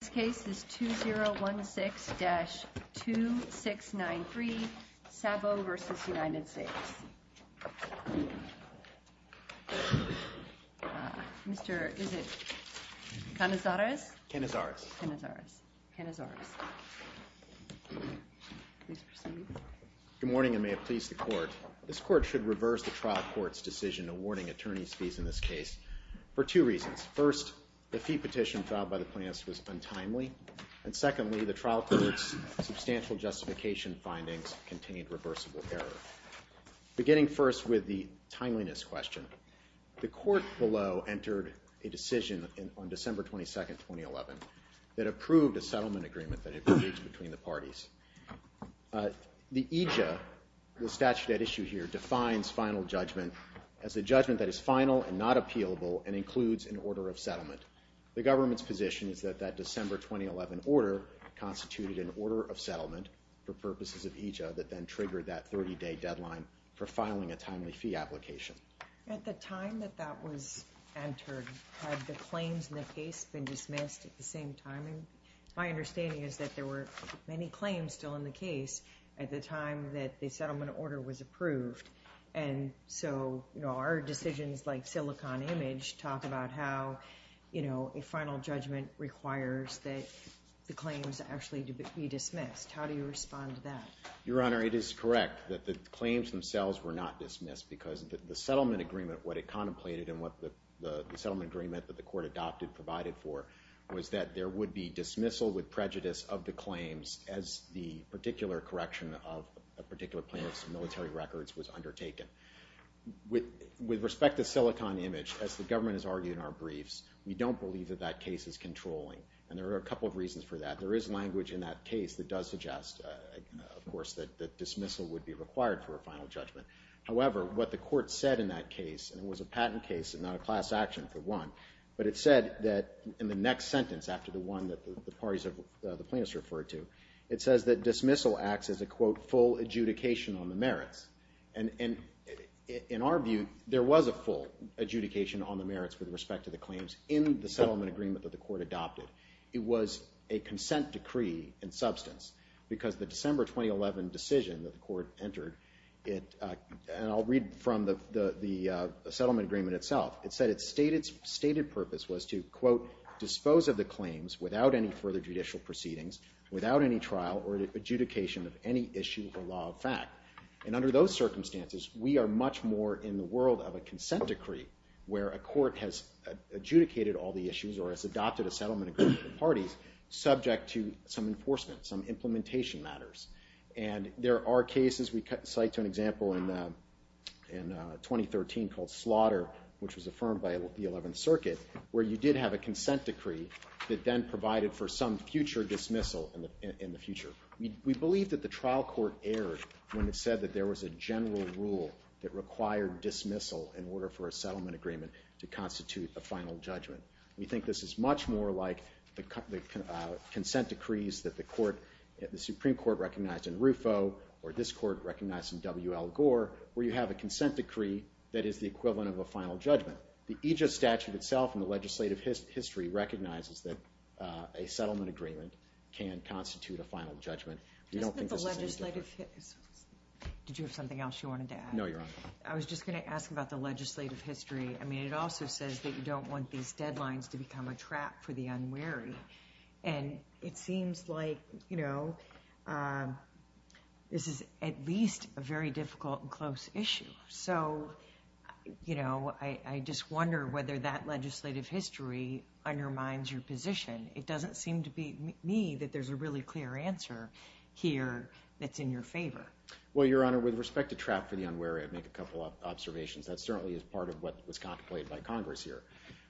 This case is 2016-2693, Sabo v. United States. Good morning and may it please the Court. This Court should reverse the trial court's decision awarding attorney's fees in this case for two reasons. First, the fee petition filed by the plaintiffs was untimely. And secondly, the trial court's substantial justification findings contained reversible error. Beginning first with the timeliness question, the Court below entered a decision on December 22, 2011 that approved a settlement agreement that had been reached between the parties. The EJA, the statute at issue here, defines final judgment as a judgment that is final and not appealable and includes an order of settlement. The government's position is that that December 2011 order constituted an order of settlement for purposes of EJA that then triggered that 30-day deadline for filing a timely fee application. At the time that that was entered, had the claims in the case been dismissed at the same time? My understanding is that there were many claims still in the case at the time that the settlement order was approved. And so, you know, our decisions like Silicon Image talk about how, you know, a final judgment requires that the claims actually be dismissed. How do you respond to that? Your Honor, it is correct that the claims themselves were not dismissed because the settlement agreement, what it contemplated and what the settlement agreement that the Court adopted provided for was that there would be dismissal with prejudice of the claims as the particular correction of a particular plaintiff's military records was undertaken. With respect to Silicon Image, as the government has argued in our briefs, we don't believe that that case is controlling. And there are a couple of reasons for that. There is language in that case that does suggest, of course, that dismissal would be required for a final judgment. However, what the Court said in that case, and it was a patent case and not a class action for one, but it said that in the next sentence after the one that the parties of the plaintiffs referred to, it says that dismissal acts as a, quote, full adjudication on the merits. And in our view, there was a full adjudication on the merits with respect to the claims in the settlement agreement that the Court adopted. It was a consent decree in substance because the December 2011 decision that the Court entered, and I'll read from the settlement agreement itself. It said its stated purpose was to, quote, dispose of the claims without any further judicial proceedings, without any trial or adjudication of any issue of the law of fact. And under those circumstances, we are much more in the world of a consent decree where a court has adjudicated all the issues or has adopted a settlement agreement with the parties subject to some enforcement, some implementation matters. And there are cases we cite to an example in 2013 called Slaughter, which was affirmed by the 11th Circuit, where you did have a consent decree that then provided for some future dismissal in the future. We believe that the trial court erred when it said that there was a general rule that required dismissal in order for a settlement agreement to constitute a final judgment. We think this is much more like the consent decrees that the Supreme Court recognized in RUFO or this Court recognized in W.L. Gore, where you have a consent decree that is the equivalent of a final judgment. The EJIS statute itself in the legislative history recognizes that a settlement agreement can constitute a final judgment. We don't think this is any different. Did you have something else you wanted to add? No, Your Honor. I was just going to ask about the legislative history. I mean, it also says that you don't want these deadlines to become a trap for the unwary. And it seems like this is at least a very difficult and close issue. So, you know, I just wonder whether that legislative history undermines your position. It doesn't seem to me that there's a really clear answer here that's in your favor. Well, Your Honor, with respect to trap for the unwary, I'd make a couple of observations. That certainly is part of what was contemplated by Congress here.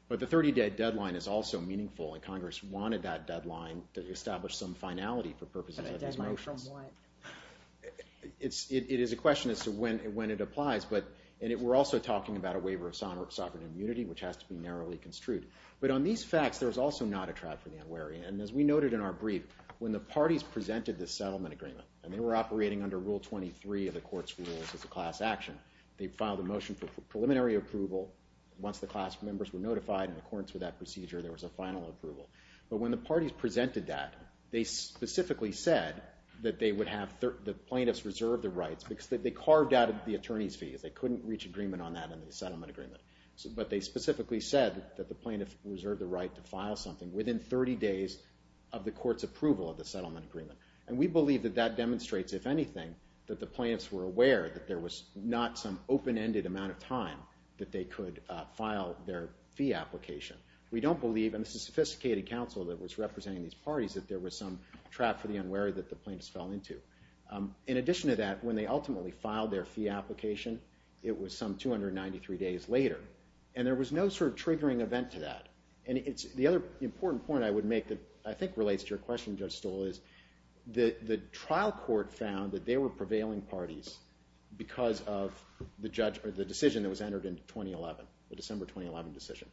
But the 30-day deadline is also meaningful, and Congress wanted that deadline to establish some finality for purposes of these motions. A deadline from what? It is a question as to when it applies. And we're also talking about a waiver of sovereign immunity, which has to be narrowly construed. But on these facts, there's also not a trap for the unwary. And as we noted in our brief, when the parties presented this settlement agreement, and they were operating under Rule 23 of the Court's Rules as a class action, they filed a motion for preliminary approval. Once the class members were notified in accordance with that procedure, there was a final approval. But when the parties presented that, they specifically said that they would have the plaintiffs reserve their rights because they carved out of the attorney's fees. They couldn't reach agreement on that in the settlement agreement. But they specifically said that the plaintiffs reserved the right to file something within 30 days of the court's approval of the settlement agreement. And we believe that that demonstrates, if anything, that the plaintiffs were aware that there was not some open-ended amount of time that they could file their fee application. We don't believe, and this is sophisticated counsel that was representing these parties, that there was some trap for the unwary that the plaintiffs fell into. In addition to that, when they ultimately filed their fee application, it was some 293 days later. And there was no sort of triggering event to that. And the other important point I would make that I think relates to your question, Judge Stoll, is the trial court found that they were prevailing parties because of the decision that was entered in 2011, the December 2011 decision.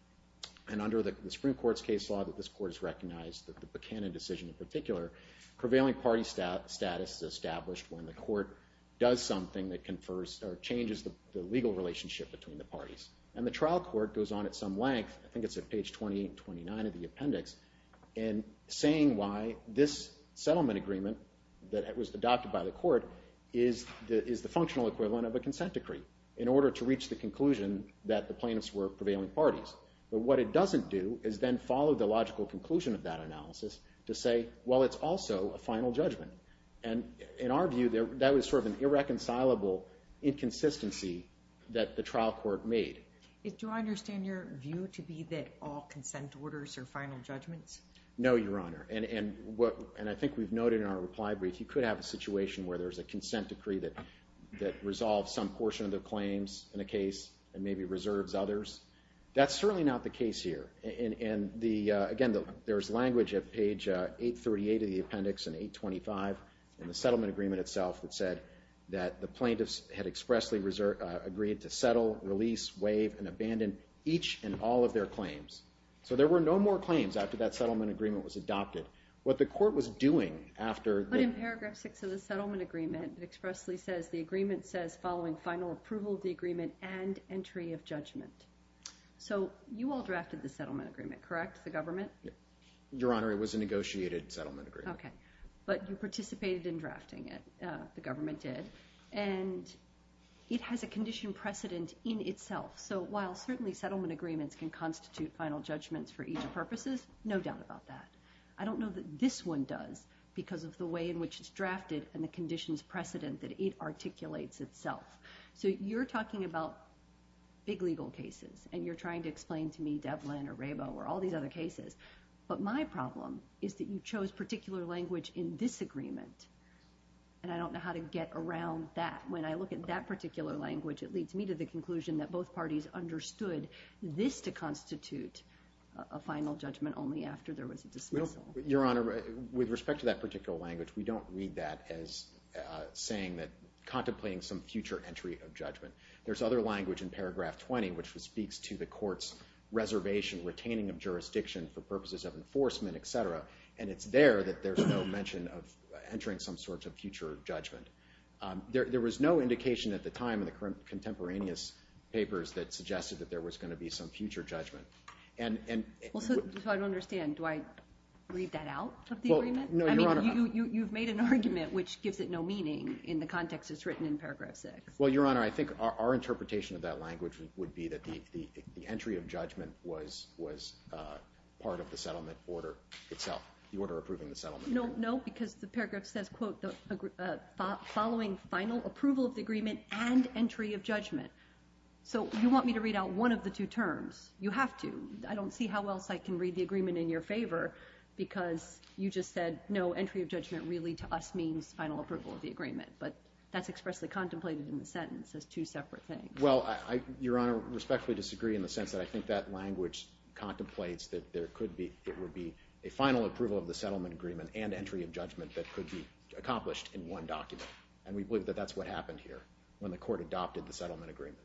And under the Supreme Court's case law that this court has recognized, the Buchanan decision in particular, prevailing party status is established when the court does something that confers or changes the legal relationship between the parties. And the trial court goes on at some length, I think it's at page 28 and 29 of the appendix, in saying why this settlement agreement that was adopted by the court is the functional equivalent of a consent decree in order to reach the conclusion that the plaintiffs were prevailing parties. But what it doesn't do is then follow the logical conclusion of that analysis to say, well, it's also a final judgment. And in our view, that was sort of an irreconcilable inconsistency that the trial court made. Do I understand your view to be that all consent orders are final judgments? No, Your Honor. And I think we've noted in our reply brief, you could have a situation where there's a consent decree that resolves some portion of the claims in a case and maybe reserves others. That's certainly not the case here. And, again, there's language at page 838 of the appendix and 825 in the settlement agreement itself that said that the plaintiffs had expressly agreed to settle, release, waive, and abandon each and all of their claims. So there were no more claims after that settlement agreement was adopted. What the court was doing after the So paragraph 6 of the settlement agreement expressly says, the agreement says, following final approval of the agreement and entry of judgment. So you all drafted the settlement agreement, correct, the government? Your Honor, it was a negotiated settlement agreement. Okay. But you participated in drafting it, the government did. And it has a condition precedent in itself. So while certainly settlement agreements can constitute final judgments for each of purposes, no doubt about that. I don't know that this one does because of the way in which it's drafted and the conditions precedent that it articulates itself. So you're talking about big legal cases, and you're trying to explain to me Devlin or Rabo or all these other cases. But my problem is that you chose particular language in this agreement, and I don't know how to get around that. When I look at that particular language, it leads me to the conclusion that both parties understood this to constitute a final judgment only after there was a dismissal. Your Honor, with respect to that particular language, we don't read that as saying that contemplating some future entry of judgment. There's other language in paragraph 20 which speaks to the court's reservation, retaining of jurisdiction for purposes of enforcement, et cetera, and it's there that there's no mention of entering some sort of future judgment. There was no indication at the time in the contemporaneous papers that suggested that there was going to be some future judgment. So I don't understand. Do I read that out of the agreement? No, Your Honor. I mean, you've made an argument which gives it no meaning in the context it's written in paragraph 6. Well, Your Honor, I think our interpretation of that language would be that the entry of judgment was part of the settlement order itself, the order approving the settlement. No, because the paragraph says, quote, following final approval of the agreement and entry of judgment. So you want me to read out one of the two terms. You have to. I don't see how else I can read the agreement in your favor because you just said, no, entry of judgment really, to us, means final approval of the agreement. But that's expressly contemplated in the sentence as two separate things. Well, Your Honor, I respectfully disagree in the sense that I think that language contemplates that there would be a final approval of the settlement agreement and entry of judgment that could be accomplished in one document, and we believe that that's what happened here when the court adopted the settlement agreement.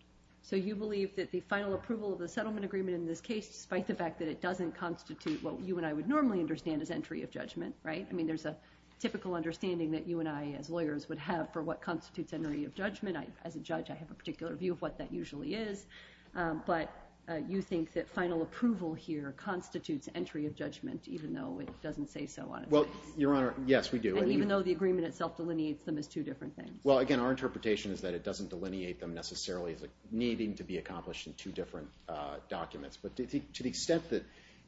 So you believe that the final approval of the settlement agreement in this case, despite the fact that it doesn't constitute what you and I would normally understand as entry of judgment, right? I mean, there's a typical understanding that you and I, as lawyers, would have for what constitutes entry of judgment. As a judge, I have a particular view of what that usually is. But you think that final approval here constitutes entry of judgment, even though it doesn't say so on its face? Well, Your Honor, yes, we do. And even though the agreement itself delineates them as two different things? Well, again, our interpretation is that it doesn't delineate them necessarily as needing to be accomplished in two different documents. But to the extent that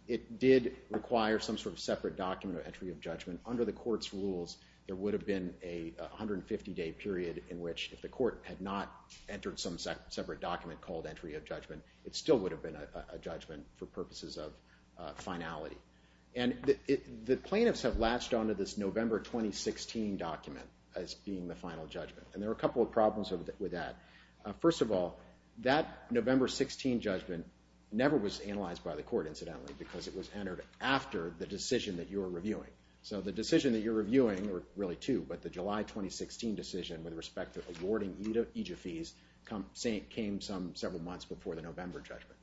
it did require some sort of separate document of entry of judgment, under the court's rules there would have been a 150-day period in which if the court had not entered some separate document called entry of judgment, it still would have been a judgment for purposes of finality. And the plaintiffs have latched onto this November 2016 document as being the final judgment. And there are a couple of problems with that. First of all, that November 2016 judgment never was analyzed by the court, incidentally, because it was entered after the decision that you were reviewing. So the decision that you're reviewing, or really two, but the July 2016 decision with respect to awarding EJ fees came several months before the November judgment.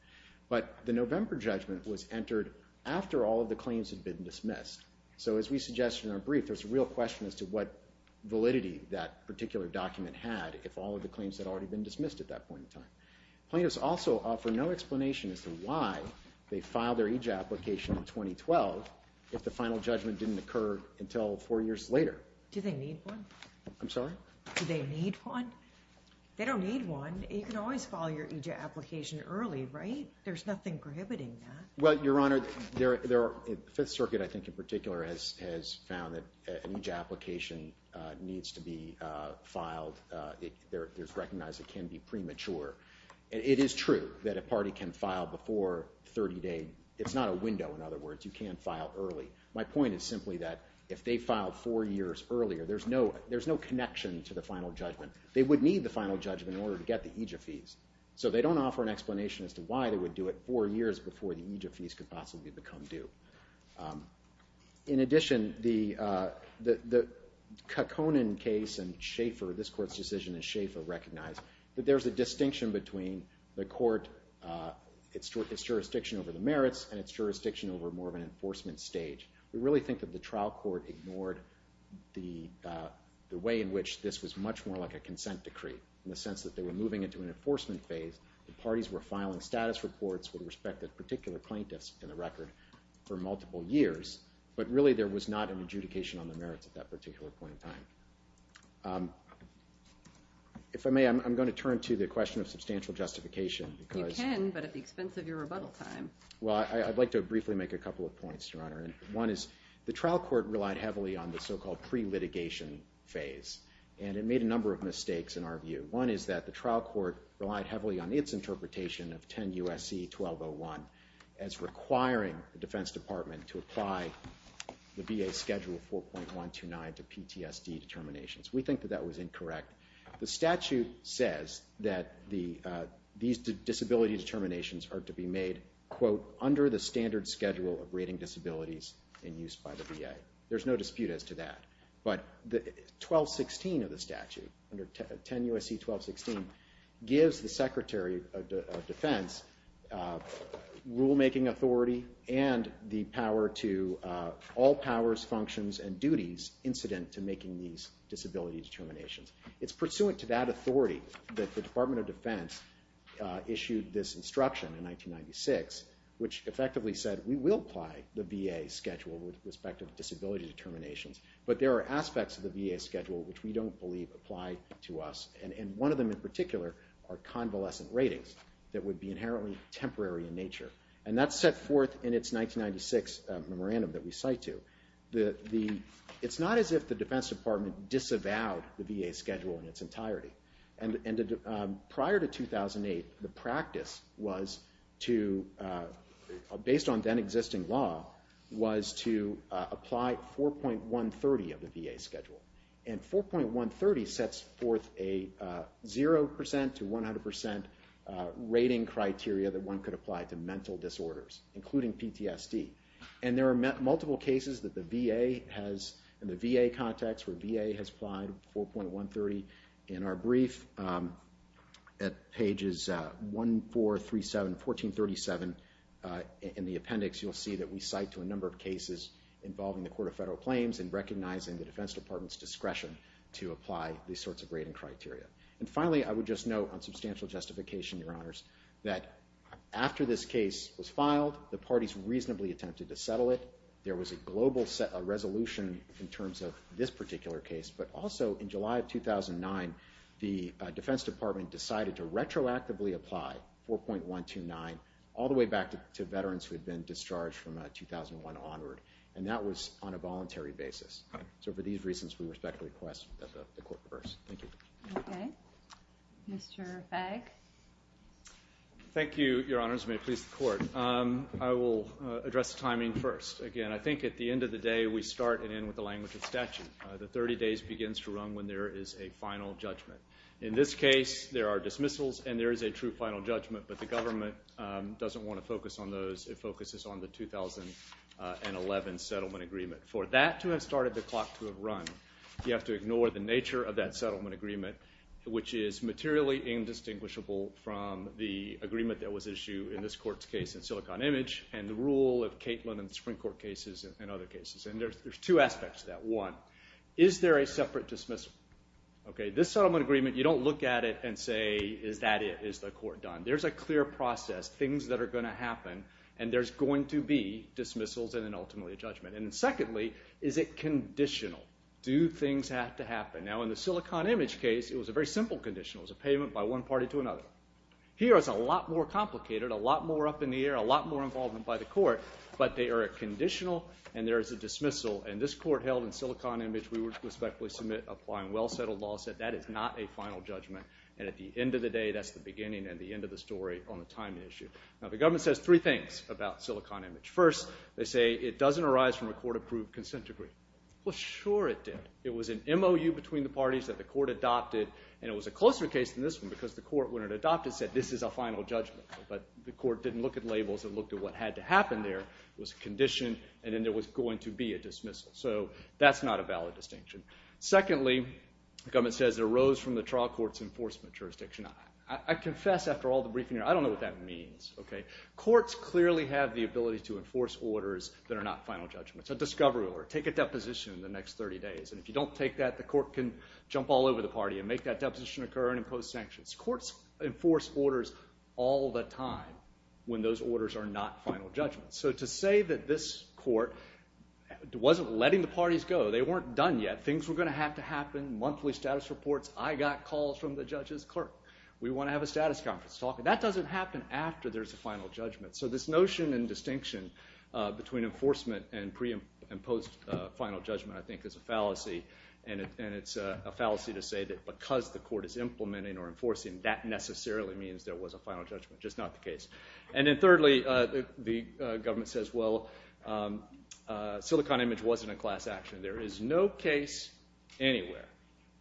But the November judgment was entered after all of the claims had been dismissed. So as we suggested in our brief, there's a real question as to what validity that particular document had if all of the claims had already been dismissed at that point in time. Plaintiffs also offer no explanation as to why they filed their EJ application in 2012 if the final judgment didn't occur until four years later. Do they need one? I'm sorry? Do they need one? They don't need one. You can always file your EJ application early, right? There's nothing prohibiting that. Well, Your Honor, the Fifth Circuit, I think in particular, has found that an EJ application needs to be filed. It's recognized it can be premature. It is true that a party can file before 30 days. It's not a window, in other words. You can file early. My point is simply that if they filed four years earlier, there's no connection to the final judgment. They would need the final judgment in order to get the EJ fees. So they don't offer an explanation as to why they would do it four years before the EJ fees could possibly become due. In addition, the Kekkonen case and Schaefer, this Court's decision, and Schaefer recognize that there's a distinction between the Court, its jurisdiction over the merits, and its jurisdiction over more of an enforcement stage. We really think that the trial court ignored the way in which this was much more like a consent decree in the sense that they were moving into an enforcement phase. The parties were filing status reports with respect to the particular plaintiffs in the record for multiple years, but really there was not an adjudication on the merits at that particular point in time. If I may, I'm going to turn to the question of substantial justification. You can, but at the expense of your rebuttal time. Well, I'd like to briefly make a couple of points, Your Honor. One is the trial court relied heavily on the so-called pre-litigation phase, and it made a number of mistakes in our view. One is that the trial court relied heavily on its interpretation of 10 U.S.C. 1201 as requiring the Defense Department to apply the VA Schedule 4.129 to PTSD determinations. We think that that was incorrect. The statute says that these disability determinations are to be made, quote, under the standard schedule of rating disabilities in use by the VA. There's no dispute as to that. But 1216 of the statute, 10 U.S.C. 1216, gives the Secretary of Defense rule-making authority and the power to all powers, functions, and duties incident to making these disability determinations. It's pursuant to that authority that the Department of Defense issued this instruction in 1996, which effectively said, we will apply the VA Schedule with respect to disability determinations, but there are aspects of the VA Schedule which we don't believe apply to us. And one of them in particular are convalescent ratings that would be inherently temporary in nature. And that's set forth in its 1996 memorandum that we cite to. It's not as if the Defense Department disavowed the VA Schedule in its entirety. Prior to 2008, the practice was to, based on then-existing law, was to apply 4.130 of the VA Schedule. And 4.130 sets forth a 0% to 100% rating criteria that one could apply to mental disorders, including PTSD. And there are multiple cases in the VA context where VA has applied 4.130. In our brief at pages 1437 and 1437 in the appendix, you'll see that we cite to a number of cases involving the Court of Federal Claims in recognizing the Defense Department's discretion to apply these sorts of rating criteria. And finally, I would just note on substantial justification, Your Honors, that after this case was filed, the parties reasonably attempted to settle it. There was a global resolution in terms of this particular case, but also in July of 2009, the Defense Department decided to retroactively apply 4.129 all the way back to veterans who had been discharged from 2001 onward. And that was on a voluntary basis. So for these reasons, we respect the request that the Court reverse. Thank you. Okay. Mr. Fagg? Thank you, Your Honors. May it please the Court. I will address the timing first. Again, I think at the end of the day, we start and end with the language of statute. The 30 days begins to run when there is a final judgment. In this case, there are dismissals and there is a true final judgment, but the government doesn't want to focus on those. It focuses on the 2011 settlement agreement. For that to have started the clock to have run, you have to ignore the nature of that settlement agreement, which is materially indistinguishable from the agreement that was issued in this Court's case in Silicon Image and the rule of Katelin in the Supreme Court cases and other cases. And there are two aspects to that. One, is there a separate dismissal? Okay, this settlement agreement, you don't look at it and say, is that it? Is the Court done? There's a clear process, things that are going to happen, and there's going to be dismissals and then ultimately a judgment. And secondly, is it conditional? Do things have to happen? Now, in the Silicon Image case, it was a very simple condition. It was a payment by one party to another. Here, it's a lot more complicated, a lot more up in the air, a lot more involvement by the Court, but they are a conditional and there is a dismissal. And this Court held in Silicon Image we would respectfully submit applying well-settled law said that is not a final judgment. And at the end of the day, that's the beginning and the end of the story on the timing issue. Now, the government says three things about Silicon Image. First, they say it doesn't arise from a court-approved consent agreement. Well, sure it did. It was an MOU between the parties that the Court adopted, and it was a closer case than this one because the Court, when it adopted, said this is a final judgment. But the Court didn't look at labels. It looked at what had to happen there. It was a condition, and then there was going to be a dismissal. So that's not a valid distinction. Secondly, the government says it arose from the trial court's enforcement jurisdiction. I confess after all the briefing here, I don't know what that means. Courts clearly have the ability to enforce orders that are not final judgments. A discovery order. Take a deposition in the next 30 days, and if you don't take that, the Court can jump all over the party and make that deposition occur and impose sanctions. Courts enforce orders all the time when those orders are not final judgments. So to say that this Court wasn't letting the parties go, they weren't done yet. Things were going to have to happen. Monthly status reports. I got calls from the judge's clerk. We want to have a status conference. That doesn't happen after there's a final judgment. So this notion and distinction between enforcement and pre- and post-final judgment I think is a fallacy, and it's a fallacy to say that because the Court is implementing or enforcing, that necessarily means there was a final judgment, which is not the case. And then thirdly, the government says, well, Silicon Image wasn't a class action. There is no case anywhere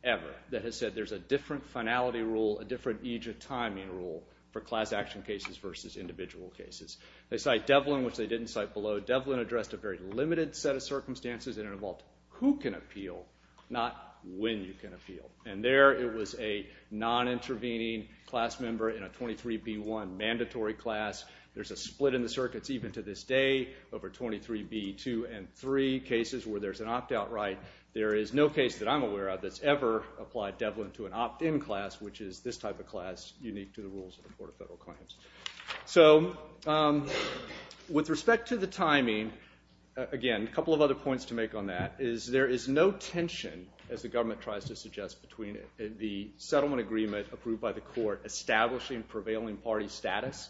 ever that has said there's a different finality rule, a different age of timing rule for class action cases versus individual cases. They cite Devlin, which they didn't cite below. Devlin addressed a very limited set of circumstances, and it involved who can appeal, not when you can appeal. And there it was a non-intervening class member in a 23B1 mandatory class. There's a split in the circuits even to this day over 23B2 and 3, cases where there's an opt-out right. There is no case that I'm aware of that's ever applied Devlin to an opt-in class, which is this type of class unique to the rules of the Court of Federal Claims. So with respect to the timing, again, a couple of other points to make on that is there is no tension, as the government tries to suggest, between the settlement agreement approved by the Court establishing prevailing party status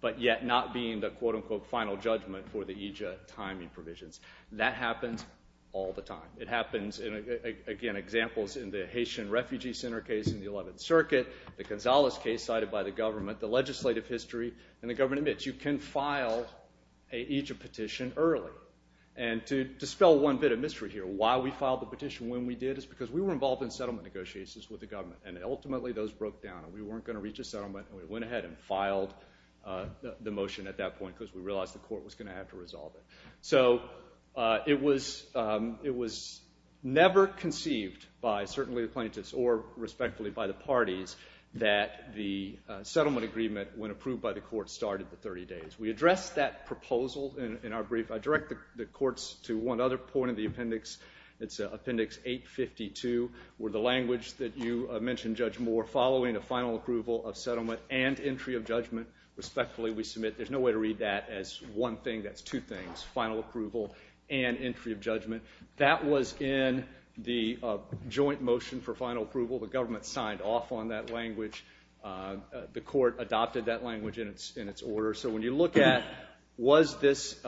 but yet not being the quote-unquote final judgment for the EJIA timing provisions. That happens all the time. It happens, again, examples in the Haitian Refugee Center case in the 11th Circuit, the Gonzales case cited by the government, the legislative history, and the government admits you can file an EJIA petition early. And to dispel one bit of mystery here, why we filed the petition when we did is because we were involved in settlement negotiations with the government, and we went ahead and filed the motion at that point because we realized the court was going to have to resolve it. So it was never conceived by certainly the plaintiffs or respectfully by the parties that the settlement agreement, when approved by the court, started the 30 days. We addressed that proposal in our brief. I direct the courts to one other point in the appendix. It's Appendix 852, where the language that you mentioned, Judge Moore, following a final approval of settlement and entry of judgment, respectfully, we submit. There's no way to read that as one thing. That's two things, final approval and entry of judgment. That was in the joint motion for final approval. The government signed off on that language. The court adopted that language in its order. So when you look at was this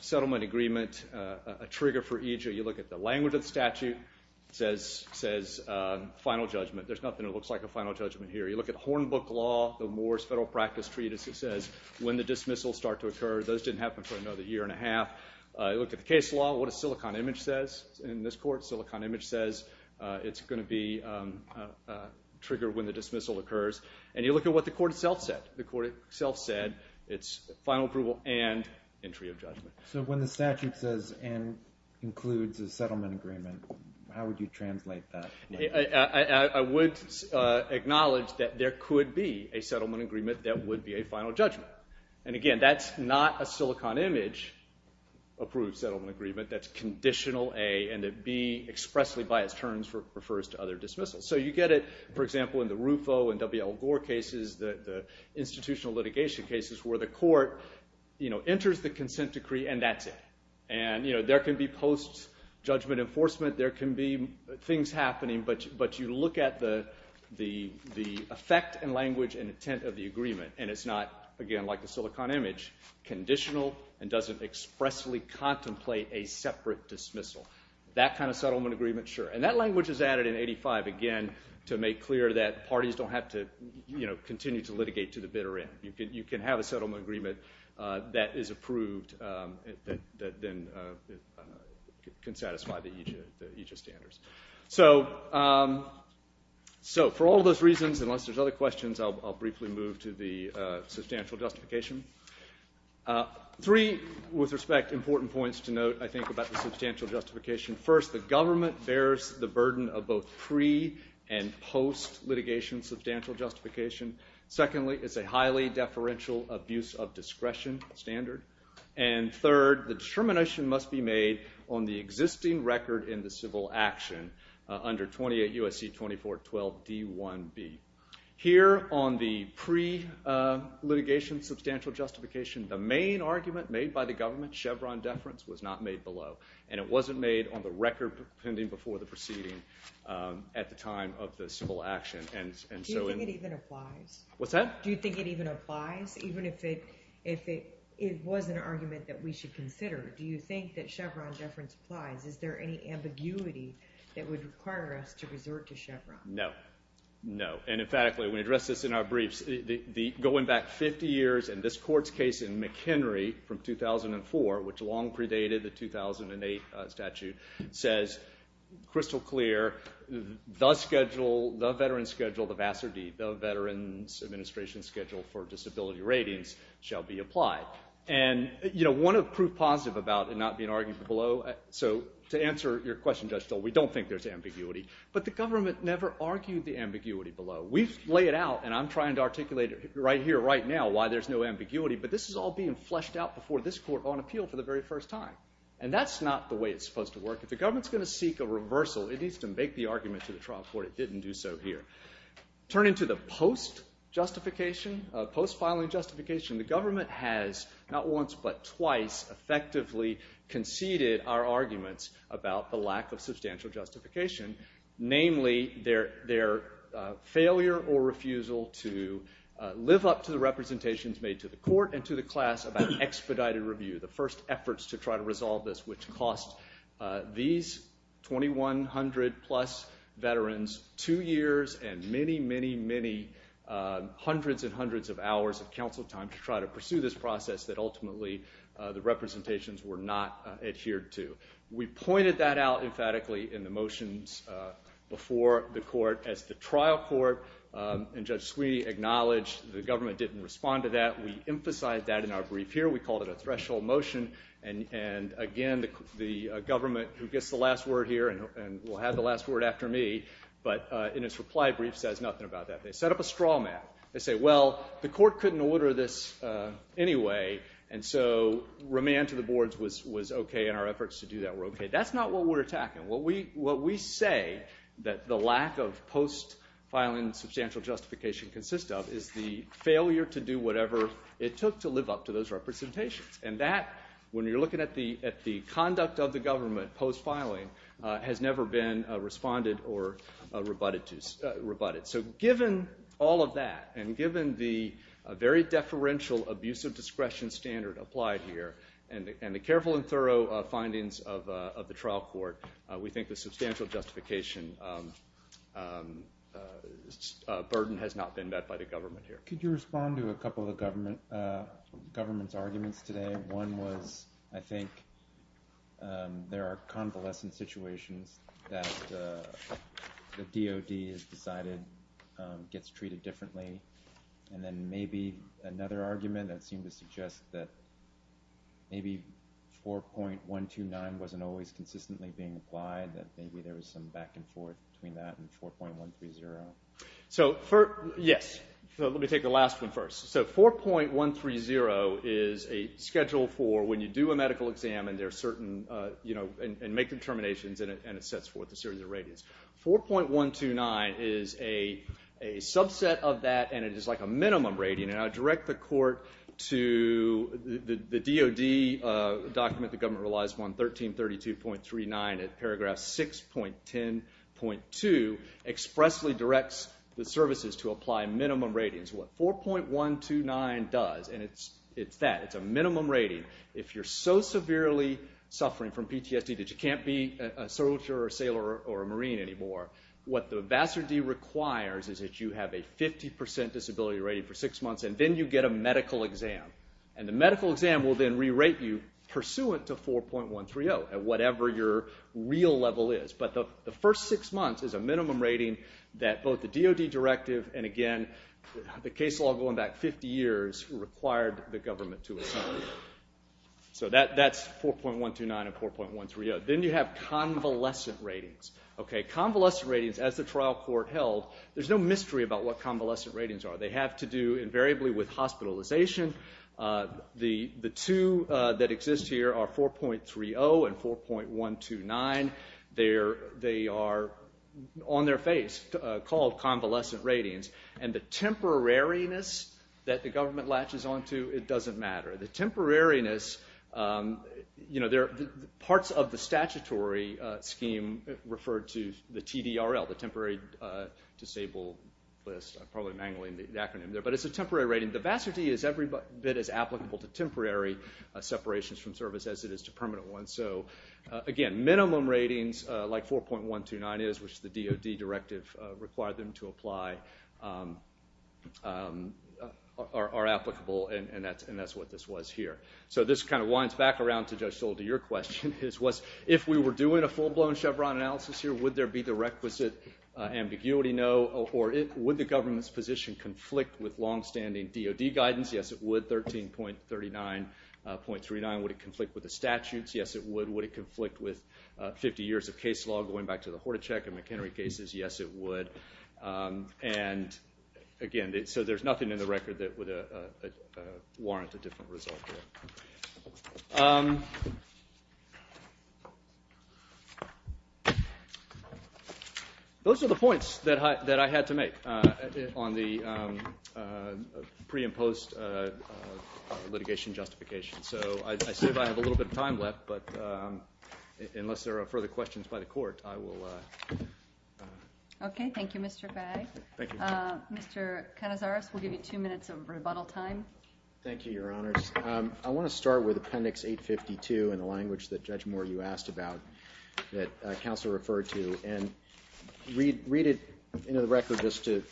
settlement agreement a trigger for EJIA, you look at the language of the statute, it says final judgment. There's nothing that looks like a final judgment here. You look at Hornbook Law, the Moore's Federal Practice Treatise, it says when the dismissals start to occur. Those didn't happen for another year and a half. You look at the case law, what a silicon image says in this court. Silicon image says it's going to be a trigger when the dismissal occurs. And you look at what the court itself said. The court itself said it's final approval and entry of judgment. So when the statute says and includes a settlement agreement, how would you translate that? I would acknowledge that there could be a settlement agreement that would be a final judgment. And, again, that's not a silicon image approved settlement agreement. That's conditional A and that B expressly by its terms refers to other dismissals. So you get it, for example, in the RUFO and WL Gore cases, the institutional litigation cases, where the court enters the consent decree and that's it. And there can be post-judgment enforcement. There can be things happening, but you look at the effect and language and intent of the agreement. And it's not, again, like the silicon image, conditional and doesn't expressly contemplate a separate dismissal. That kind of settlement agreement, sure. And that language is added in 85, again, to make clear that parties don't have to continue to litigate to the bitter end. You can have a settlement agreement that is approved that then can satisfy the EJIA standards. So for all those reasons, unless there's other questions, I'll briefly move to the substantial justification. Three, with respect, important points to note, I think, about the substantial justification. First, the government bears the burden of both pre- and post-litigation substantial justification. Secondly, it's a highly deferential abuse of discretion standard. And third, the determination must be made on the existing record in the civil action under 28 U.S.C. 2412 D1B. Here on the pre-litigation substantial justification, the main argument made by the government, Chevron deference, was not made below. And it wasn't made on the record pending before the proceeding at the time of the civil action. Do you think it even applies? What's that? Do you think it even applies, even if it was an argument that we should consider? Do you think that Chevron deference applies? Is there any ambiguity that would require us to resort to Chevron? No. No. And emphatically, when we address this in our briefs, going back 50 years and this court's case in McHenry from 2004, which long predated the 2008 statute, says crystal clear, the schedule, the veteran's schedule, the VASRD, the Veterans Administration Schedule for Disability Ratings, shall be applied. And, you know, one of proof positive about it not being argued below, so to answer your question, Judge Stoll, we don't think there's ambiguity. But the government never argued the ambiguity below. We lay it out, and I'm trying to articulate it right here, right now, why there's no ambiguity. But this is all being fleshed out before this court on appeal for the very first time. And that's not the way it's supposed to work. If the government's going to seek a reversal, it needs to make the argument to the trial court. It didn't do so here. Turning to the post-justification, post-filing justification, the government has not once but twice effectively conceded our arguments about the lack of substantial justification, namely their failure or refusal to live up to the representations made to the court and to the class about expedited review, the first efforts to try to resolve this, which cost these 2,100-plus veterans two years and many, many, many hundreds and hundreds of hours of counsel time to try to pursue this process that ultimately the representations were not adhered to. We pointed that out emphatically in the motions before the court as the trial court, and Judge Sweeney acknowledged the government didn't respond to that. We emphasized that in our brief here. We called it a threshold motion. And again, the government, who gets the last word here and will have the last word after me, but in its reply brief says nothing about that. They set up a straw man. They say, well, the court couldn't order this anyway, and so remand to the boards was okay and our efforts to do that were okay. That's not what we're attacking. What we say that the lack of post-filing substantial justification consists of is the failure to do whatever it took to live up to those representations, and that, when you're looking at the conduct of the government post-filing, has never been responded or rebutted. So given all of that and given the very deferential abusive discretion standard applied here and the careful and thorough findings of the trial court, we think the substantial justification burden has not been met by the government here. Could you respond to a couple of the government's arguments today? One was I think there are convalescent situations that the DOD has decided gets treated differently, and then maybe another argument that seemed to suggest that maybe 4.129 wasn't always consistently being applied, that maybe there was some back and forth between that and 4.130. So, yes. Let me take the last one first. So 4.130 is a schedule for when you do a medical exam and make determinations, and it sets forth a series of ratings. 4.129 is a subset of that, and it is like a minimum rating. And I direct the court to the DOD document the government relies upon, 1332.39, and paragraph 6.10.2 expressly directs the services to apply minimum ratings. What 4.129 does, and it's that. It's a minimum rating. If you're so severely suffering from PTSD that you can't be a soldier or a sailor or a marine anymore, what the VASRD requires is that you have a 50% disability rating for six months, and then you get a medical exam. And the medical exam will then re-rate you pursuant to 4.130 at whatever your real level is. But the first six months is a minimum rating that both the DOD directive and, again, the case law going back 50 years required the government to assign. So that's 4.129 and 4.130. Then you have convalescent ratings. Convalescent ratings, as the trial court held, there's no mystery about what convalescent ratings are. They have to do invariably with hospitalization. The two that exist here are 4.30 and 4.129. They are on their face called convalescent ratings. And the temporariness that the government latches onto, it doesn't matter. The temporariness, you know, parts of the statutory scheme refer to the TDRL, the Temporary Disabled List. I'm probably mangling the acronym there. But it's a temporary rating. The VASRD is every bit as applicable to temporary separations from service as it is to permanent ones. So, again, minimum ratings like 4.129 is, which the DOD directive required them to apply, are applicable, and that's what this was here. So this kind of winds back around to Judge Stoll to your question. If we were doing a full-blown Chevron analysis here, would there be the requisite ambiguity? No. Or would the government's position conflict with longstanding DOD guidance? Yes, it would. 13.39.39. Would it conflict with the statutes? Yes, it would. Would it conflict with 50 years of case law going back to the Hordacek and McHenry cases? Yes, it would. And, again, so there's nothing in the record that would warrant a different result here. Those are the points that I had to make on the pre and post litigation justification. So I see that I have a little bit of time left, but unless there are further questions by the Court, I will. Okay. Thank you, Mr. Bagg. Thank you. Mr. Canizares, we'll give you two minutes of rebuttal time. Thank you, Your Honors. I want to start with Appendix 852 in the language that Judge Moore, you asked about, that counsel referred to, and read it into the record just to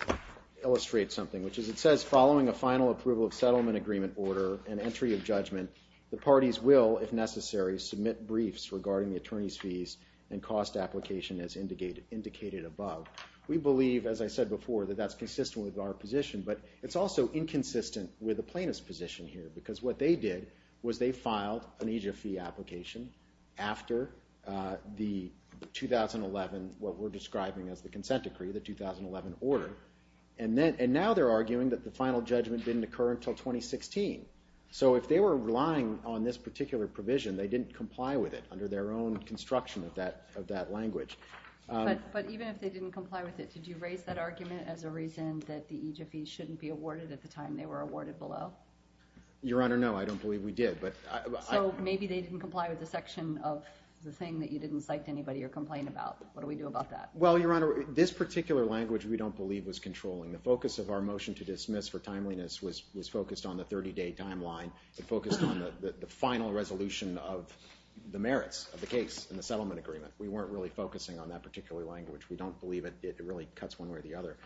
illustrate something, which is it says, following a final approval of settlement agreement order and entry of judgment, the parties will, if necessary, submit briefs regarding the attorney's fees and cost application as indicated above. We believe, as I said before, that that's consistent with our position, but it's also inconsistent with the plaintiff's position here because what they did was they filed an EJF fee application after the 2011, what we're describing as the consent decree, the 2011 order. And now they're arguing that the final judgment didn't occur until 2016. So if they were relying on this particular provision, they didn't comply with it under their own construction of that language. But even if they didn't comply with it, did you raise that argument as a reason that the EJF fee shouldn't be awarded at the time they were awarded below? Your Honor, no. I don't believe we did. So maybe they didn't comply with the section of the thing that you didn't cite to anybody or complain about. What do we do about that? Well, Your Honor, this particular language we don't believe was controlling. The focus of our motion to dismiss for timeliness was focused on the 30-day timeline. It focused on the final resolution of the merits of the case in the settlement agreement. We weren't really focusing on that particular language. We don't believe it really cuts one way or the other.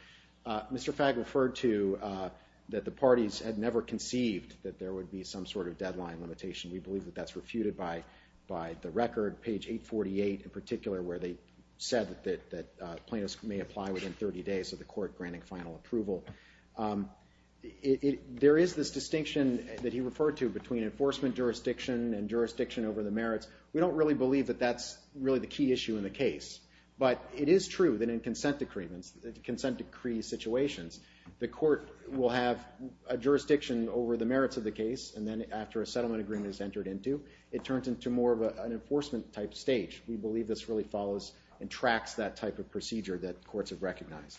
Mr. Fagg referred to that the parties had never conceived that there would be some sort of deadline limitation. We believe that that's refuted by the record, page 848 in particular, where they said that plaintiffs may apply within 30 days of the court granting final approval. There is this distinction that he referred to between enforcement jurisdiction and jurisdiction over the merits. We don't really believe that that's really the key issue in the case. But it is true that in consent decree situations, the court will have a jurisdiction over the merits of the case, and then after a settlement agreement is entered into, it turns into more of an enforcement-type stage. We believe this really follows and tracks that type of procedure that courts have recognized.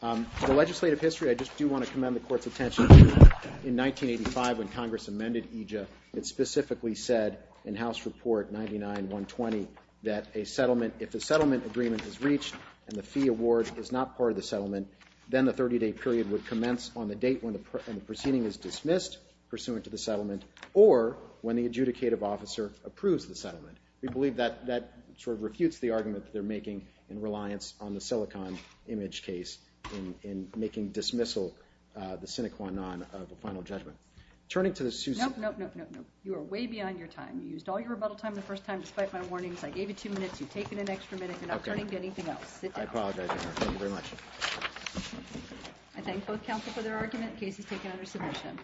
The legislative history, I just do want to commend the court's attention to. In 1985, when Congress amended EJA, it specifically said in House Report 99-120 that a settlement, if the settlement agreement is reached and the fee award is not part of the settlement, then the 30-day period would commence on the date when the proceeding is dismissed, pursuant to the settlement, or when the adjudicative officer approves the settlement. We believe that sort of refutes the argument that they're making in reliance on the silicon image case in making dismissal the sine qua non of the final judgment. Turning to the suit's- Nope, nope, nope, nope, nope. You are way beyond your time. You used all your rebuttal time the first time despite my warnings. I gave you two minutes. You've taken an extra minute. You're not turning to anything else. Sit down. I apologize, Your Honor. Thank you very much. I thank both counsel for their argument. The case is taken under submission.